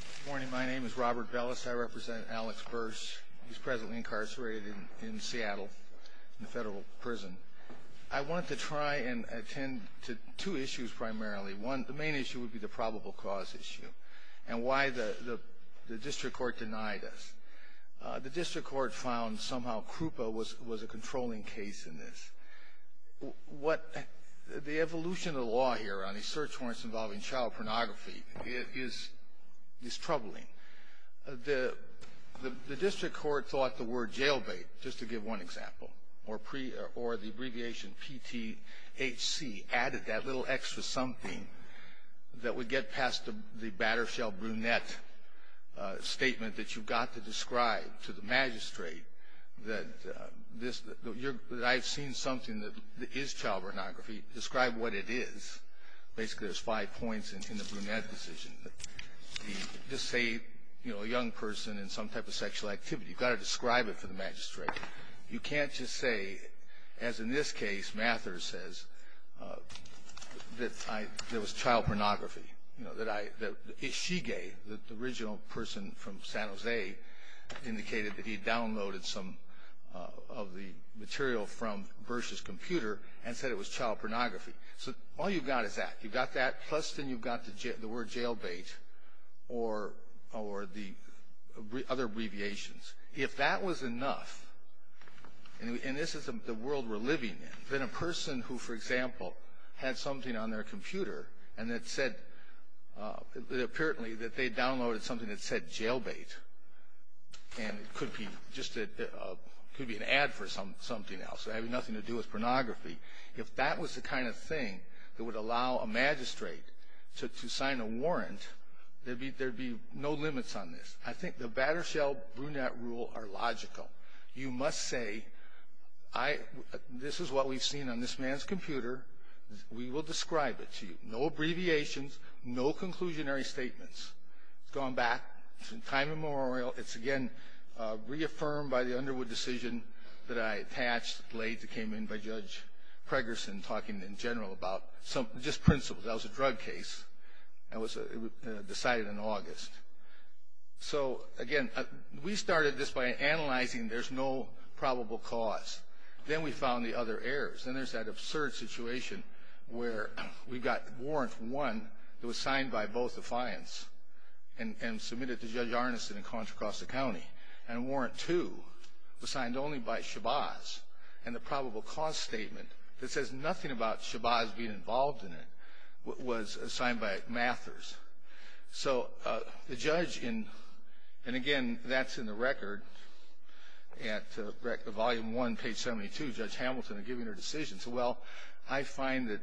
Good morning, my name is Robert Bellis. I represent Alex Bursch. He's presently incarcerated in Seattle in a federal prison. I wanted to try and attend to two issues primarily. One, the main issue would be the probable cause issue and why the district court denied us. The district court found somehow Krupa was a controlling case in this. The evolution of the law here on these search warrants involving child pornography is troubling. The district court thought the word jailbait, just to give one example, or the abbreviation PTHC added that little extra something that would get past the batter-shell brunette statement that you've got to describe to the magistrate that I've seen something that is child pornography. Describe what it is. Basically, there's five points in the brunette decision. Just say, you know, a young person in some type of sexual activity. You've got to describe it for the magistrate. You can't just say, as in this case, Mathers says, that there was child pornography. You know, that Ishige, the original person from San Jose, indicated that he downloaded some of the material from Bursch's computer and said it was child pornography. So all you've got is that. You've got that, plus then you've got the word jailbait or the other abbreviations. If that was enough, and this is the world we're living in, then a person who, for example, had something on their computer and that said, apparently that they downloaded something that said jailbait, and it could be just an ad for something else, having nothing to do with pornography, if that was the kind of thing that would allow a magistrate to sign a warrant, there'd be no limits on this. I think the batter-shell brunette rule are logical. You must say, this is what we've seen on this man's computer. We will describe it to you. No abbreviations. No conclusionary statements. It's gone back. It's in time immemorial. It's, again, reaffirmed by the Underwood decision that I attached late that came in by Judge Pregerson talking in general about just principles. That was a drug case. It was decided in August. So, again, we started this by analyzing there's no probable cause. Then we found the other errors. Then there's that absurd situation where we got Warrant 1 that was signed by both the fines and submitted to Judge Arneson in Contra Costa County, and Warrant 2 was signed only by Shabazz, and the probable cause statement that says nothing about Shabazz being involved in it was signed by Mathers. So the judge in, and, again, that's in the record at Volume 1, Page 72, Judge Hamilton giving her decision. So, well, I find that,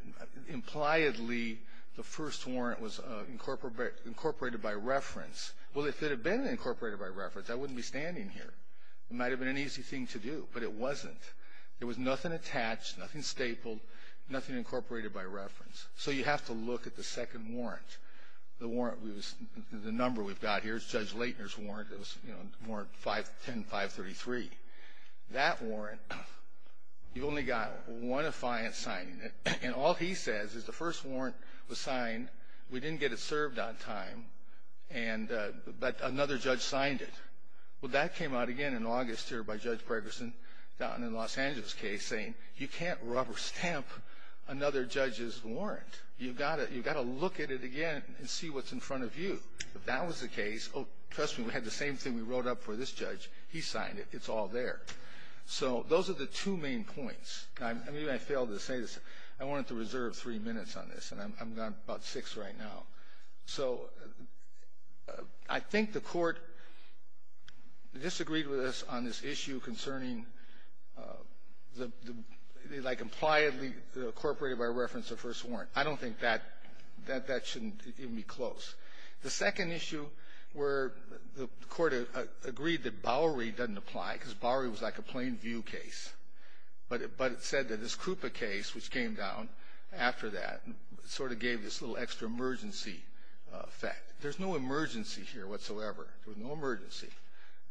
impliedly, the first warrant was incorporated by reference. Well, if it had been incorporated by reference, I wouldn't be standing here. It might have been an easy thing to do, but it wasn't. There was nothing attached, nothing stapled, nothing incorporated by reference. So you have to look at the second warrant. The number we've got here is Judge Laitner's warrant. It was, you know, Warrant 10-533. That warrant, you've only got one affiant signing it, and all he says is the first warrant was signed. We didn't get it served on time, but another judge signed it. Well, that came out again in August here by Judge Gregerson down in the Los Angeles case saying, you can't rubber stamp another judge's warrant. You've got to look at it again and see what's in front of you. If that was the case, oh, trust me, we had the same thing we wrote up for this judge. He signed it. It's all there. So those are the two main points. Maybe I failed to say this. I wanted to reserve three minutes on this, and I've got about six right now. So I think the Court disagreed with us on this issue concerning the, like, impliedly incorporated by reference the first warrant. I don't think that that shouldn't even be close. The second issue where the Court agreed that Bowery doesn't apply, because Bowery was like a plain view case. But it said that this Krupa case, which came down after that, sort of gave this little extra emergency effect. There's no emergency here whatsoever. There was no emergency.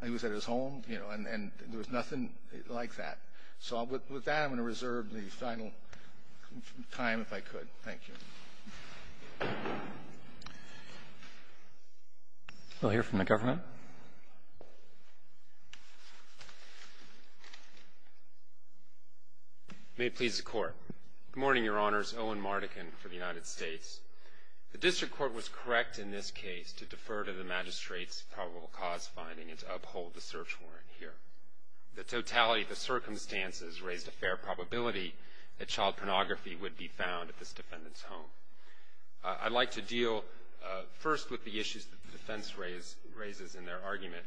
He was at his home, you know, and there was nothing like that. So with that, I'm going to reserve the final time if I could. Thank you. We'll hear from the government. May it please the Court. Good morning, Your Honors. Owen Mardekin for the United States. The District Court was correct in this case to defer to the magistrate's probable cause finding and to uphold the search warrant here. The totality of the circumstances raised a fair probability that child pornography would be found at this defendant's home. I'd like to deal first with the issues that the defense raises in their argument,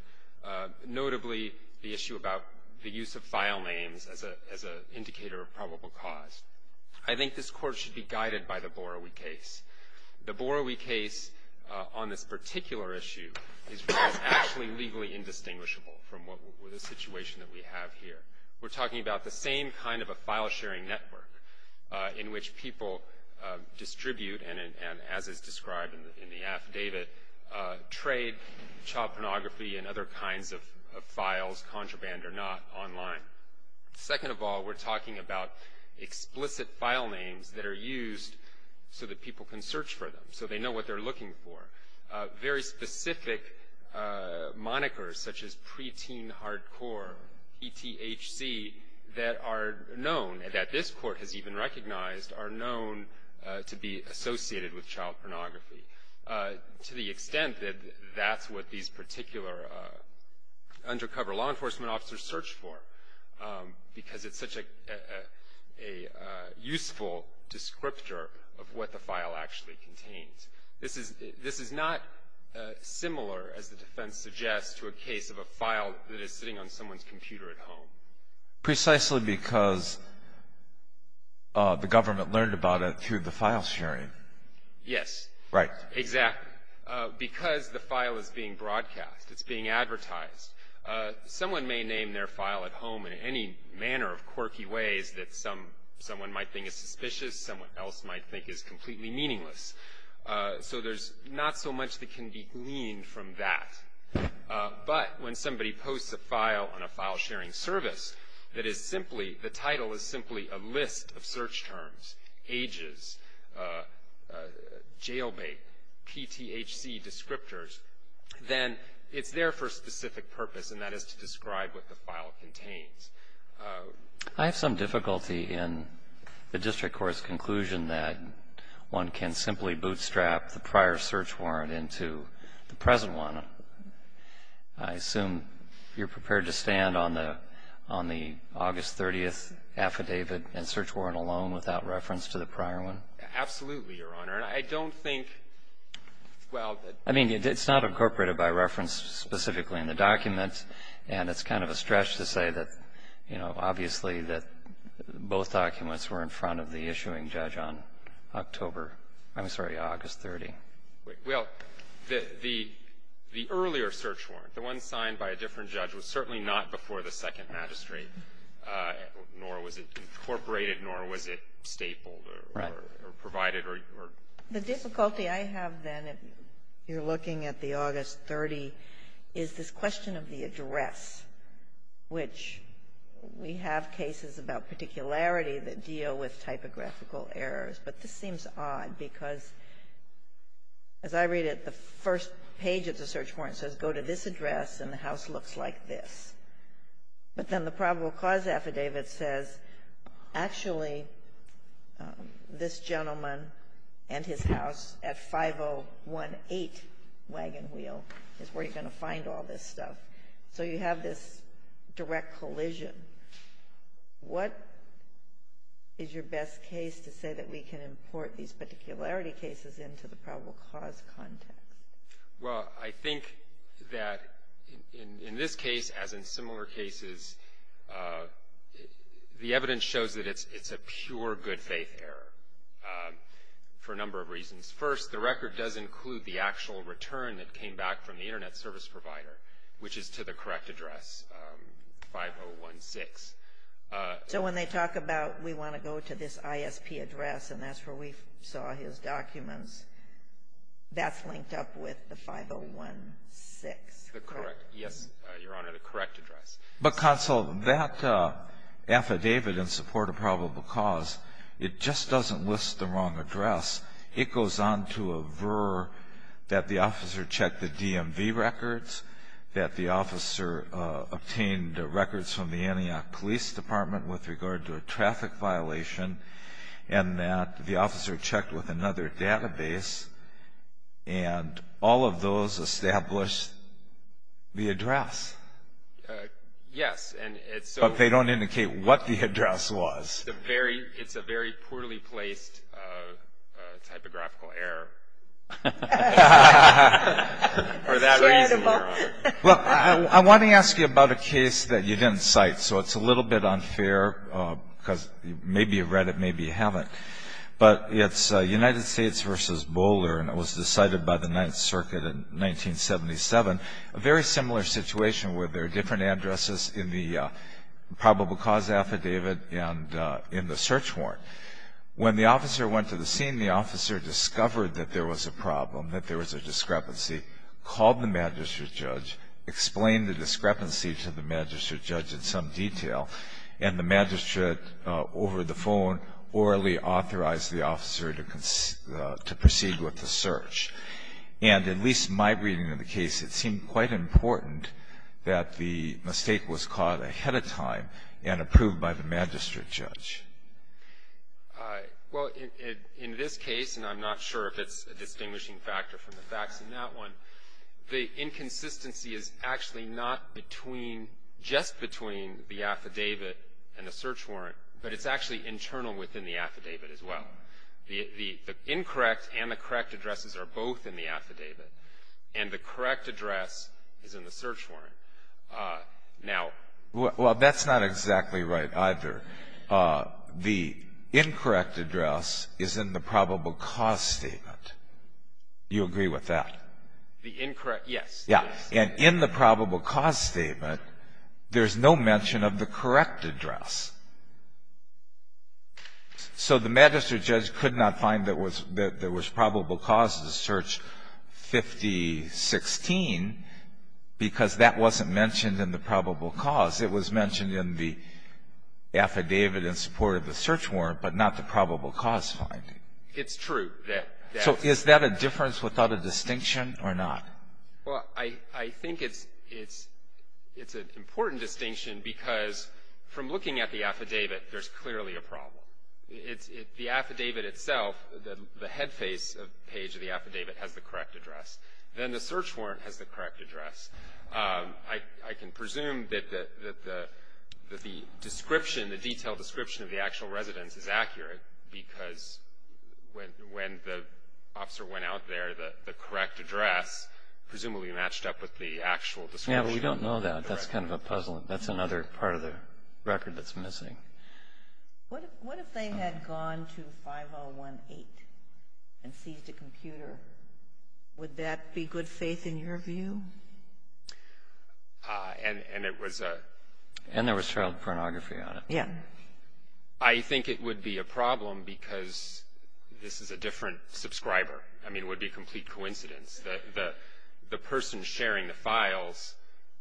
notably the issue about the use of file names as an indicator of probable cause. I think this Court should be guided by the Bowery case. The Bowery case on this particular issue is actually legally indistinguishable from the situation that we have here. We're talking about the same kind of a file-sharing network in which people distribute and, as is described in the affidavit, trade child pornography and other kinds of files, contraband or not, online. Second of all, we're talking about explicit file names that are used so that people can search for them, so they know what they're looking for. Very specific monikers, such as preteen hardcore, ETHC, that are known, that this Court has even recognized are known to be associated with child pornography, to the extent that that's what these particular undercover law enforcement officers search for, because it's such a useful descriptor of what the file actually contains. This is not similar, as the defense suggests, to a case of a file that is sitting on someone's computer at home. Precisely because the government learned about it through the file-sharing. Yes. Right. Exactly. Because the file is being broadcast, it's being advertised. Someone may name their file at home in any manner of quirky ways that someone might think is suspicious, someone else might think is completely meaningless. So there's not so much that can be gleaned from that. But when somebody posts a file on a file-sharing service that is simply, the title is simply a list of search terms, ages, jail bait, PTHC descriptors, then it's there for a specific purpose, and that is to describe what the file contains. I have some difficulty in the district court's conclusion that one can simply bootstrap the prior search warrant into the present one. I assume you're prepared to stand on the August 30th affidavit and search warrant alone without reference to the prior one? Absolutely, Your Honor. And I don't think, well the ---- I mean, it's not incorporated by reference specifically in the document, and it's kind of a stretch to say that, you know, obviously that both documents were in front of the issuing judge on October, I'm sorry, August 30th. Well, the earlier search warrant, the one signed by a different judge, was certainly not before the Second Magistrate, nor was it incorporated, nor was it stapled or provided or ---- The difficulty I have, then, if you're looking at the August 30th, is this question of the address, which we have cases about particularity that deal with typographical errors, but this seems odd because, as I read it, the first page of the search warrant says, go to this address, and the house looks like this. But then the probable cause affidavit says, actually, this gentleman and his house at 5018 Wagon Wheel is where you're going to find all this stuff. So you have this direct collision. What is your best case to say that we can import these particularity cases into the probable cause context? Well, I think that in this case, as in similar cases, the evidence shows that it's a pure good faith error for a number of reasons. First, the record does include the actual return that came back from the Internet service provider, which is to the correct address, 5016. So when they talk about, we want to go to this ISP address, and that's where we saw his documents, that's linked up with the 5016, correct? Yes, Your Honor, the correct address. But, Counsel, that affidavit in support of probable cause, it just doesn't list the wrong address. It goes on to aver that the officer checked the DMV records, that the officer obtained records from the Antioch Police Department with regard to a traffic violation, and that the officer checked with another database, and all of those established the address. Yes, and it's so – But they don't indicate what the address was. It's a very poorly placed typographical error for that reason, Your Honor. Well, I want to ask you about a case that you didn't cite, so it's a little bit unfair, because maybe you've read it, maybe you haven't. But it's United States v. Boulder, and it was decided by the Ninth Circuit in 1977, a very similar situation where there are different addresses in the probable cause affidavit and in the search warrant. When the officer went to the scene, the officer discovered that there was a problem, that there was a discrepancy, called the magistrate judge, explained the discrepancy to the magistrate judge in some detail, and the magistrate, over the phone, orally authorized the officer to proceed with the search. And in at least my reading of the case, it seemed quite important that the mistake was caught ahead of time and approved by the magistrate judge. Well, in this case, and I'm not sure if it's a distinguishing factor from the facts in that one, the inconsistency is actually not between, just between the affidavit and the search warrant, but it's actually internal within the affidavit as well. The incorrect and the correct addresses are both in the affidavit, and the correct address is in the search warrant. Now — Well, that's not exactly right either. The incorrect address is in the probable cause statement. You agree with that? The incorrect — yes. Yeah. And in the probable cause statement, there's no mention of the correct address. So the magistrate judge could not find that there was probable cause to search 5016 because that wasn't mentioned in the probable cause. It was mentioned in the affidavit in support of the search warrant, but not the probable cause finding. It's true. So is that a difference without a distinction or not? Well, I think it's an important distinction because from looking at the affidavit, there's clearly a problem. The affidavit itself, the head face page of the affidavit has the correct address. Then the search warrant has the correct address. I can presume that the description, the detailed description of the actual residence is accurate because when the officer went out there, the correct address presumably matched up with the actual description. Yeah, but we don't know that. That's kind of a puzzle. That's another part of the record that's missing. What if they had gone to 5018 and seized a computer? Would that be good faith in your view? And it was a — And there was child pornography on it. Yeah. I think it would be a problem because this is a different subscriber. I mean, it would be a complete coincidence. The person sharing the files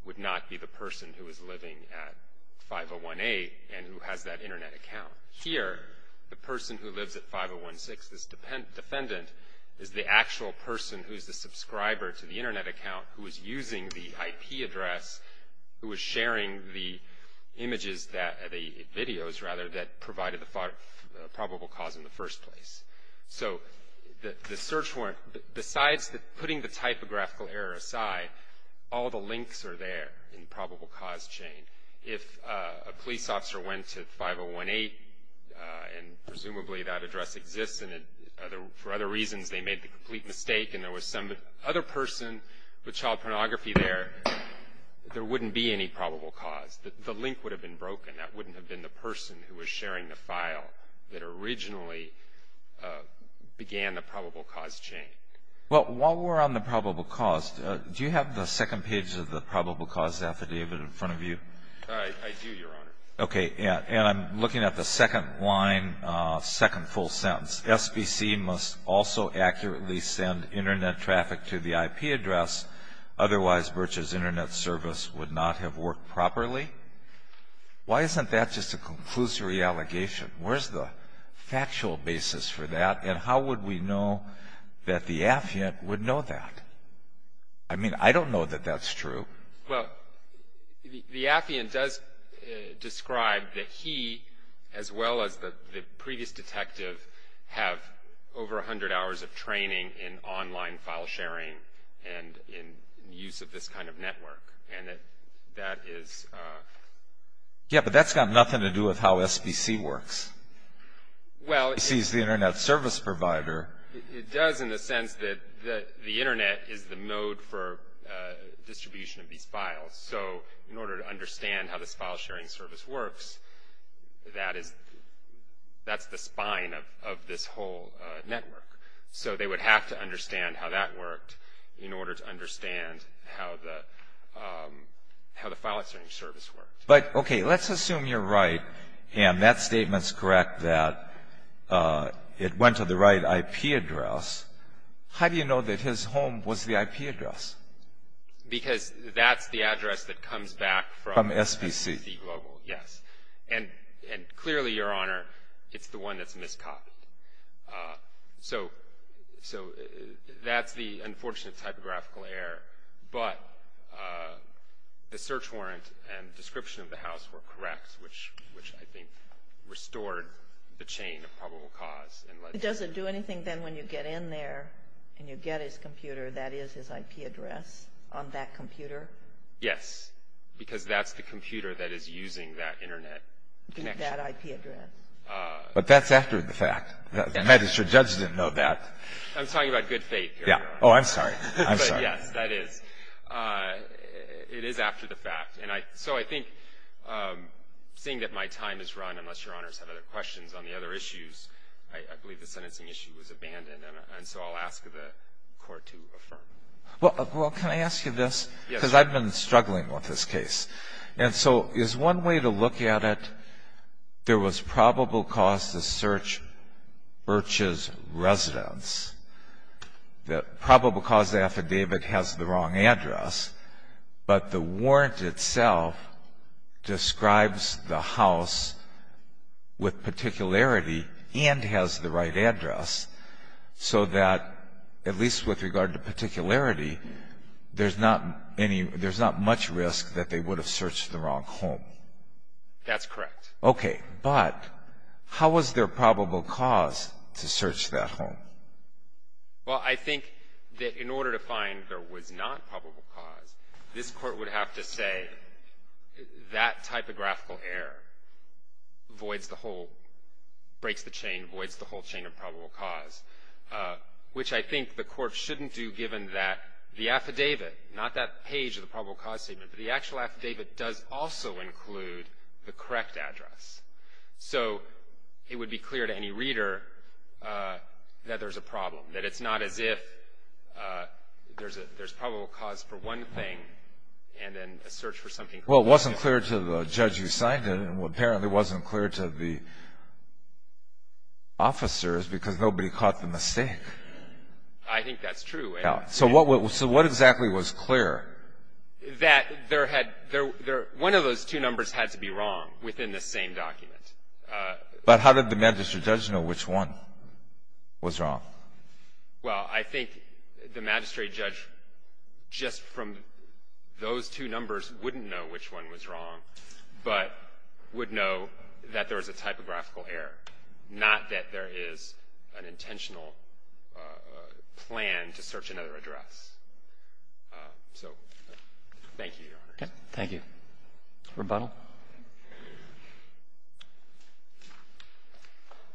would not be the person who was living at 5018 and who has that Internet account. Here, the person who lives at 5016, this defendant, is the actual person who's the subscriber to the Internet account, who is using the IP address, who is sharing the images, the videos rather, that provided the probable cause in the first place. So the search warrant, besides putting the type of graphical error aside, all the links are there in the probable cause chain. If a police officer went to 5018, and presumably that address exists, and for other reasons they made the complete mistake, and there was some other person with child pornography there, there wouldn't be any probable cause. The link would have been broken. That wouldn't have been the person who was sharing the file that originally began the probable cause chain. Well, while we're on the probable cause, do you have the second page of the probable cause affidavit in front of you? I do, Your Honor. Okay. And I'm looking at the second line, second full sentence. SBC must also accurately send Internet traffic to the IP address. Otherwise, Birch's Internet service would not have worked properly. Why isn't that just a conclusory allegation? Where's the factual basis for that, and how would we know that the affiant would know that? I mean, I don't know that that's true. Well, the affiant does describe that he, as well as the previous detective, have over 100 hours of training in online file sharing and in use of this kind of network, and that is... Yeah, but that's got nothing to do with how SBC works. Well... SBC is the Internet service provider. It does in the sense that the Internet is the mode for distribution of these files. So, in order to understand how this file sharing service works, that's the spine of this whole network. So, they would have to understand how that worked in order to understand how the file sharing service works. But, okay, let's assume you're right, and that statement's correct that it went to the right IP address. How do you know that his home was the IP address? Because that's the address that comes back from SBC. From SBC. Yes. And clearly, Your Honor, it's the one that's miscopied. So, that's the unfortunate typographical error. But the search warrant and description of the house were correct, which I think restored the chain of probable cause. It doesn't do anything then when you get in there and you get his computer that is his IP address on that computer? Yes, because that's the computer that is using that Internet connection. That IP address. But that's after the fact. The magistrate judge didn't know that. I'm talking about good faith here, Your Honor. Oh, I'm sorry. I'm sorry. But, yes, that is. It is after the fact. So, I think, seeing that my time is run, unless Your Honors have other questions on the other issues, I believe the sentencing issue was abandoned, and so I'll ask the Court to affirm. Well, can I ask you this? Yes. Because I've been struggling with this case. And so, is one way to look at it, there was probable cause to search Birch's residence. The probable cause affidavit has the wrong address, but the warrant itself describes the house with particularity and has the right address, so that, at least with regard to particularity, there's not much risk that they would have searched the wrong home. That's correct. Okay. But how was there probable cause to search that home? Well, I think that in order to find there was not probable cause, this Court would have to say that typographical error voids the whole, breaks the chain, voids the whole chain of probable cause, which I think the Court shouldn't do, given that the affidavit, not that page of the probable cause statement, but the actual affidavit does also include the correct address. So, it would be clear to any reader that there's a problem, that it's not as if there's probable cause for one thing and then a search for something else. Well, it wasn't clear to the judge who signed it, and apparently it wasn't clear to the officers because nobody caught the mistake. I think that's true. So, what exactly was clear? That one of those two numbers had to be wrong within the same document. But how did the magistrate judge know which one was wrong? Well, I think the magistrate judge, just from those two numbers, wouldn't know which one was wrong, but would know that there was a typographical error, not that there is an intentional plan to search another address. So, thank you, Your Honor. Thank you. Rebuttal?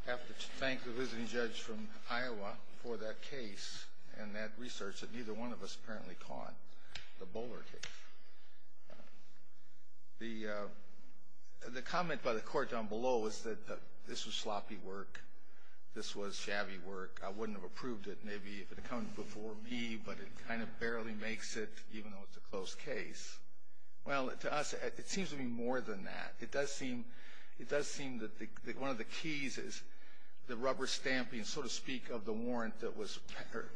I have to thank the visiting judge from Iowa for that case and that research that neither one of us apparently caught, the Bowler case. The comment by the court down below was that this was sloppy work, this was shabby work. I wouldn't have approved it maybe if it had come before me, but it kind of barely makes it even though it's a close case. Well, to us, it seems to be more than that. It does seem that one of the keys is the rubber stamping, so to speak, of the warrant that was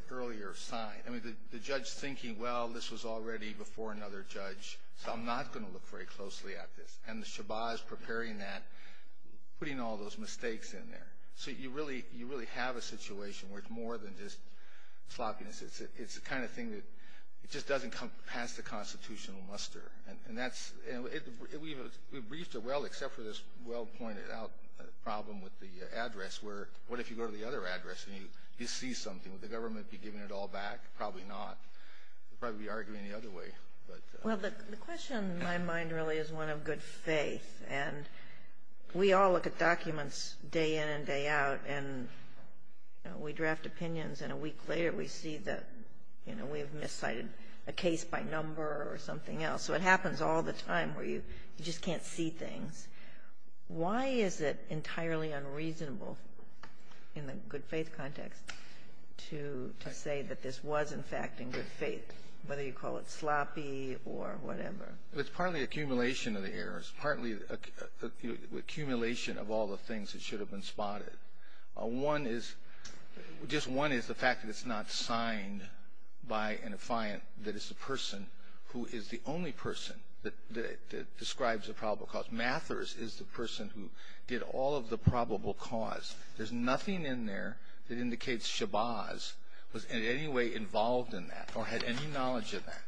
earlier signed. I mean, the judge thinking, well, this was already before another judge, so I'm not going to look very closely at this. And the shabaz preparing that, putting all those mistakes in there. So, you really have a situation where it's more than just sloppiness. It's the kind of thing that just doesn't come past the constitutional muster. And we've briefed it well except for this well-pointed out problem with the address where what if you go to the other address and you see something? Would the government be giving it all back? Probably not. They'd probably be arguing the other way. Well, the question in my mind really is one of good faith, and we all look at documents day in and day out, and we draft opinions, and a week later we see that we have miscited a case by number or something else. So it happens all the time where you just can't see things. Why is it entirely unreasonable in the good faith context to say that this was, in fact, in good faith, whether you call it sloppy or whatever? It's partly accumulation of the errors, partly accumulation of all the things that should have been spotted. Just one is the fact that it's not signed by an affiant, that it's the person who is the only person that describes the probable cause. Mathers is the person who did all of the probable cause. There's nothing in there that indicates Shabaz was in any way involved in that or had any knowledge of that.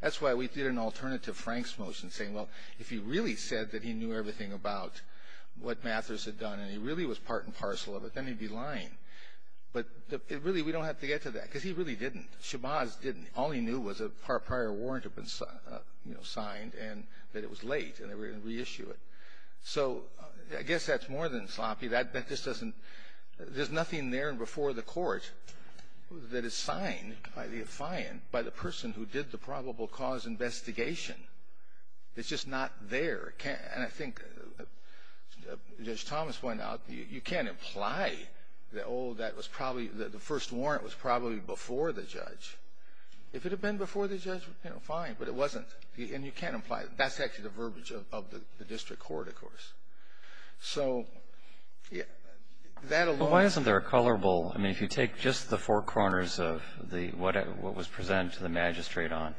That's why we did an alternative Franks motion saying, well, if he really said that he knew everything about what Mathers had done and he really was part and parcel of it, then he'd be lying. But really, we don't have to get to that because he really didn't. Shabaz didn't. All he knew was a prior warrant had been signed and that it was late and they were going to reissue it. So I guess that's more than sloppy. There's nothing there before the court that is signed by the affiant, by the person who did the probable cause investigation. It's just not there. I think Judge Thomas pointed out that you can't imply that the first warrant was probably before the judge. If it had been before the judge, fine, but it wasn't. And you can't imply it. That's actually the verbiage of the district court, of course. So that alone. Well, why isn't there a colorable? I mean, if you take just the four corners of what was presented to the magistrate on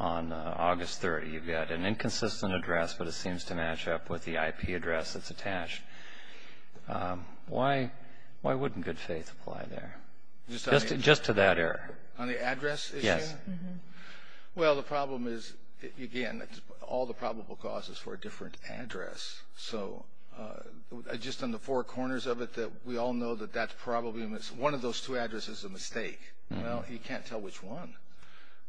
August 30th, you've got an inconsistent address, but it seems to match up with the IP address that's attached. Why wouldn't good faith apply there? Just to that error. On the address issue? Yes. Well, the problem is, again, all the probable cause is for a different address. So just on the four corners of it, we all know that one of those two addresses is a mistake. Well, you can't tell which one.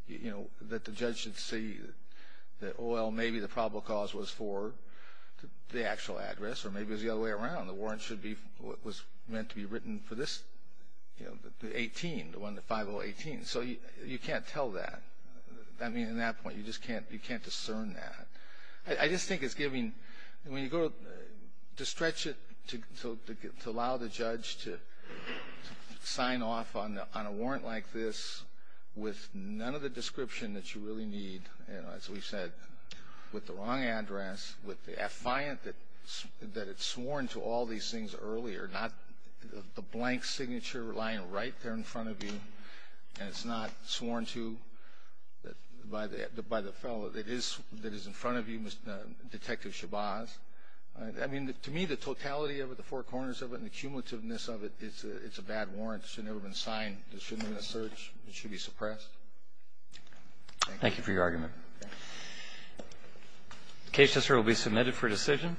The judge should see that, well, maybe the probable cause was for the actual address, or maybe it was the other way around. The warrant was meant to be written for this, the 18, the 5018. So you can't tell that. I mean, at that point, you just can't discern that. I just think it's giving – when you go to stretch it to allow the judge to sign off on a warrant like this with none of the description that you really need, as we've said, with the wrong address, with the affiant that it's sworn to all these things earlier, not the blank signature lying right there in front of you, and it's not sworn to by the fellow that is in front of you, Detective Shabazz. I mean, to me, the totality of it, the four corners of it, and the cumulativeness of it, it's a bad warrant. It should have never been signed. It shouldn't have been a search. It should be suppressed. Thank you. Thank you for your argument. The case, Mr. Earle, will be submitted for decision.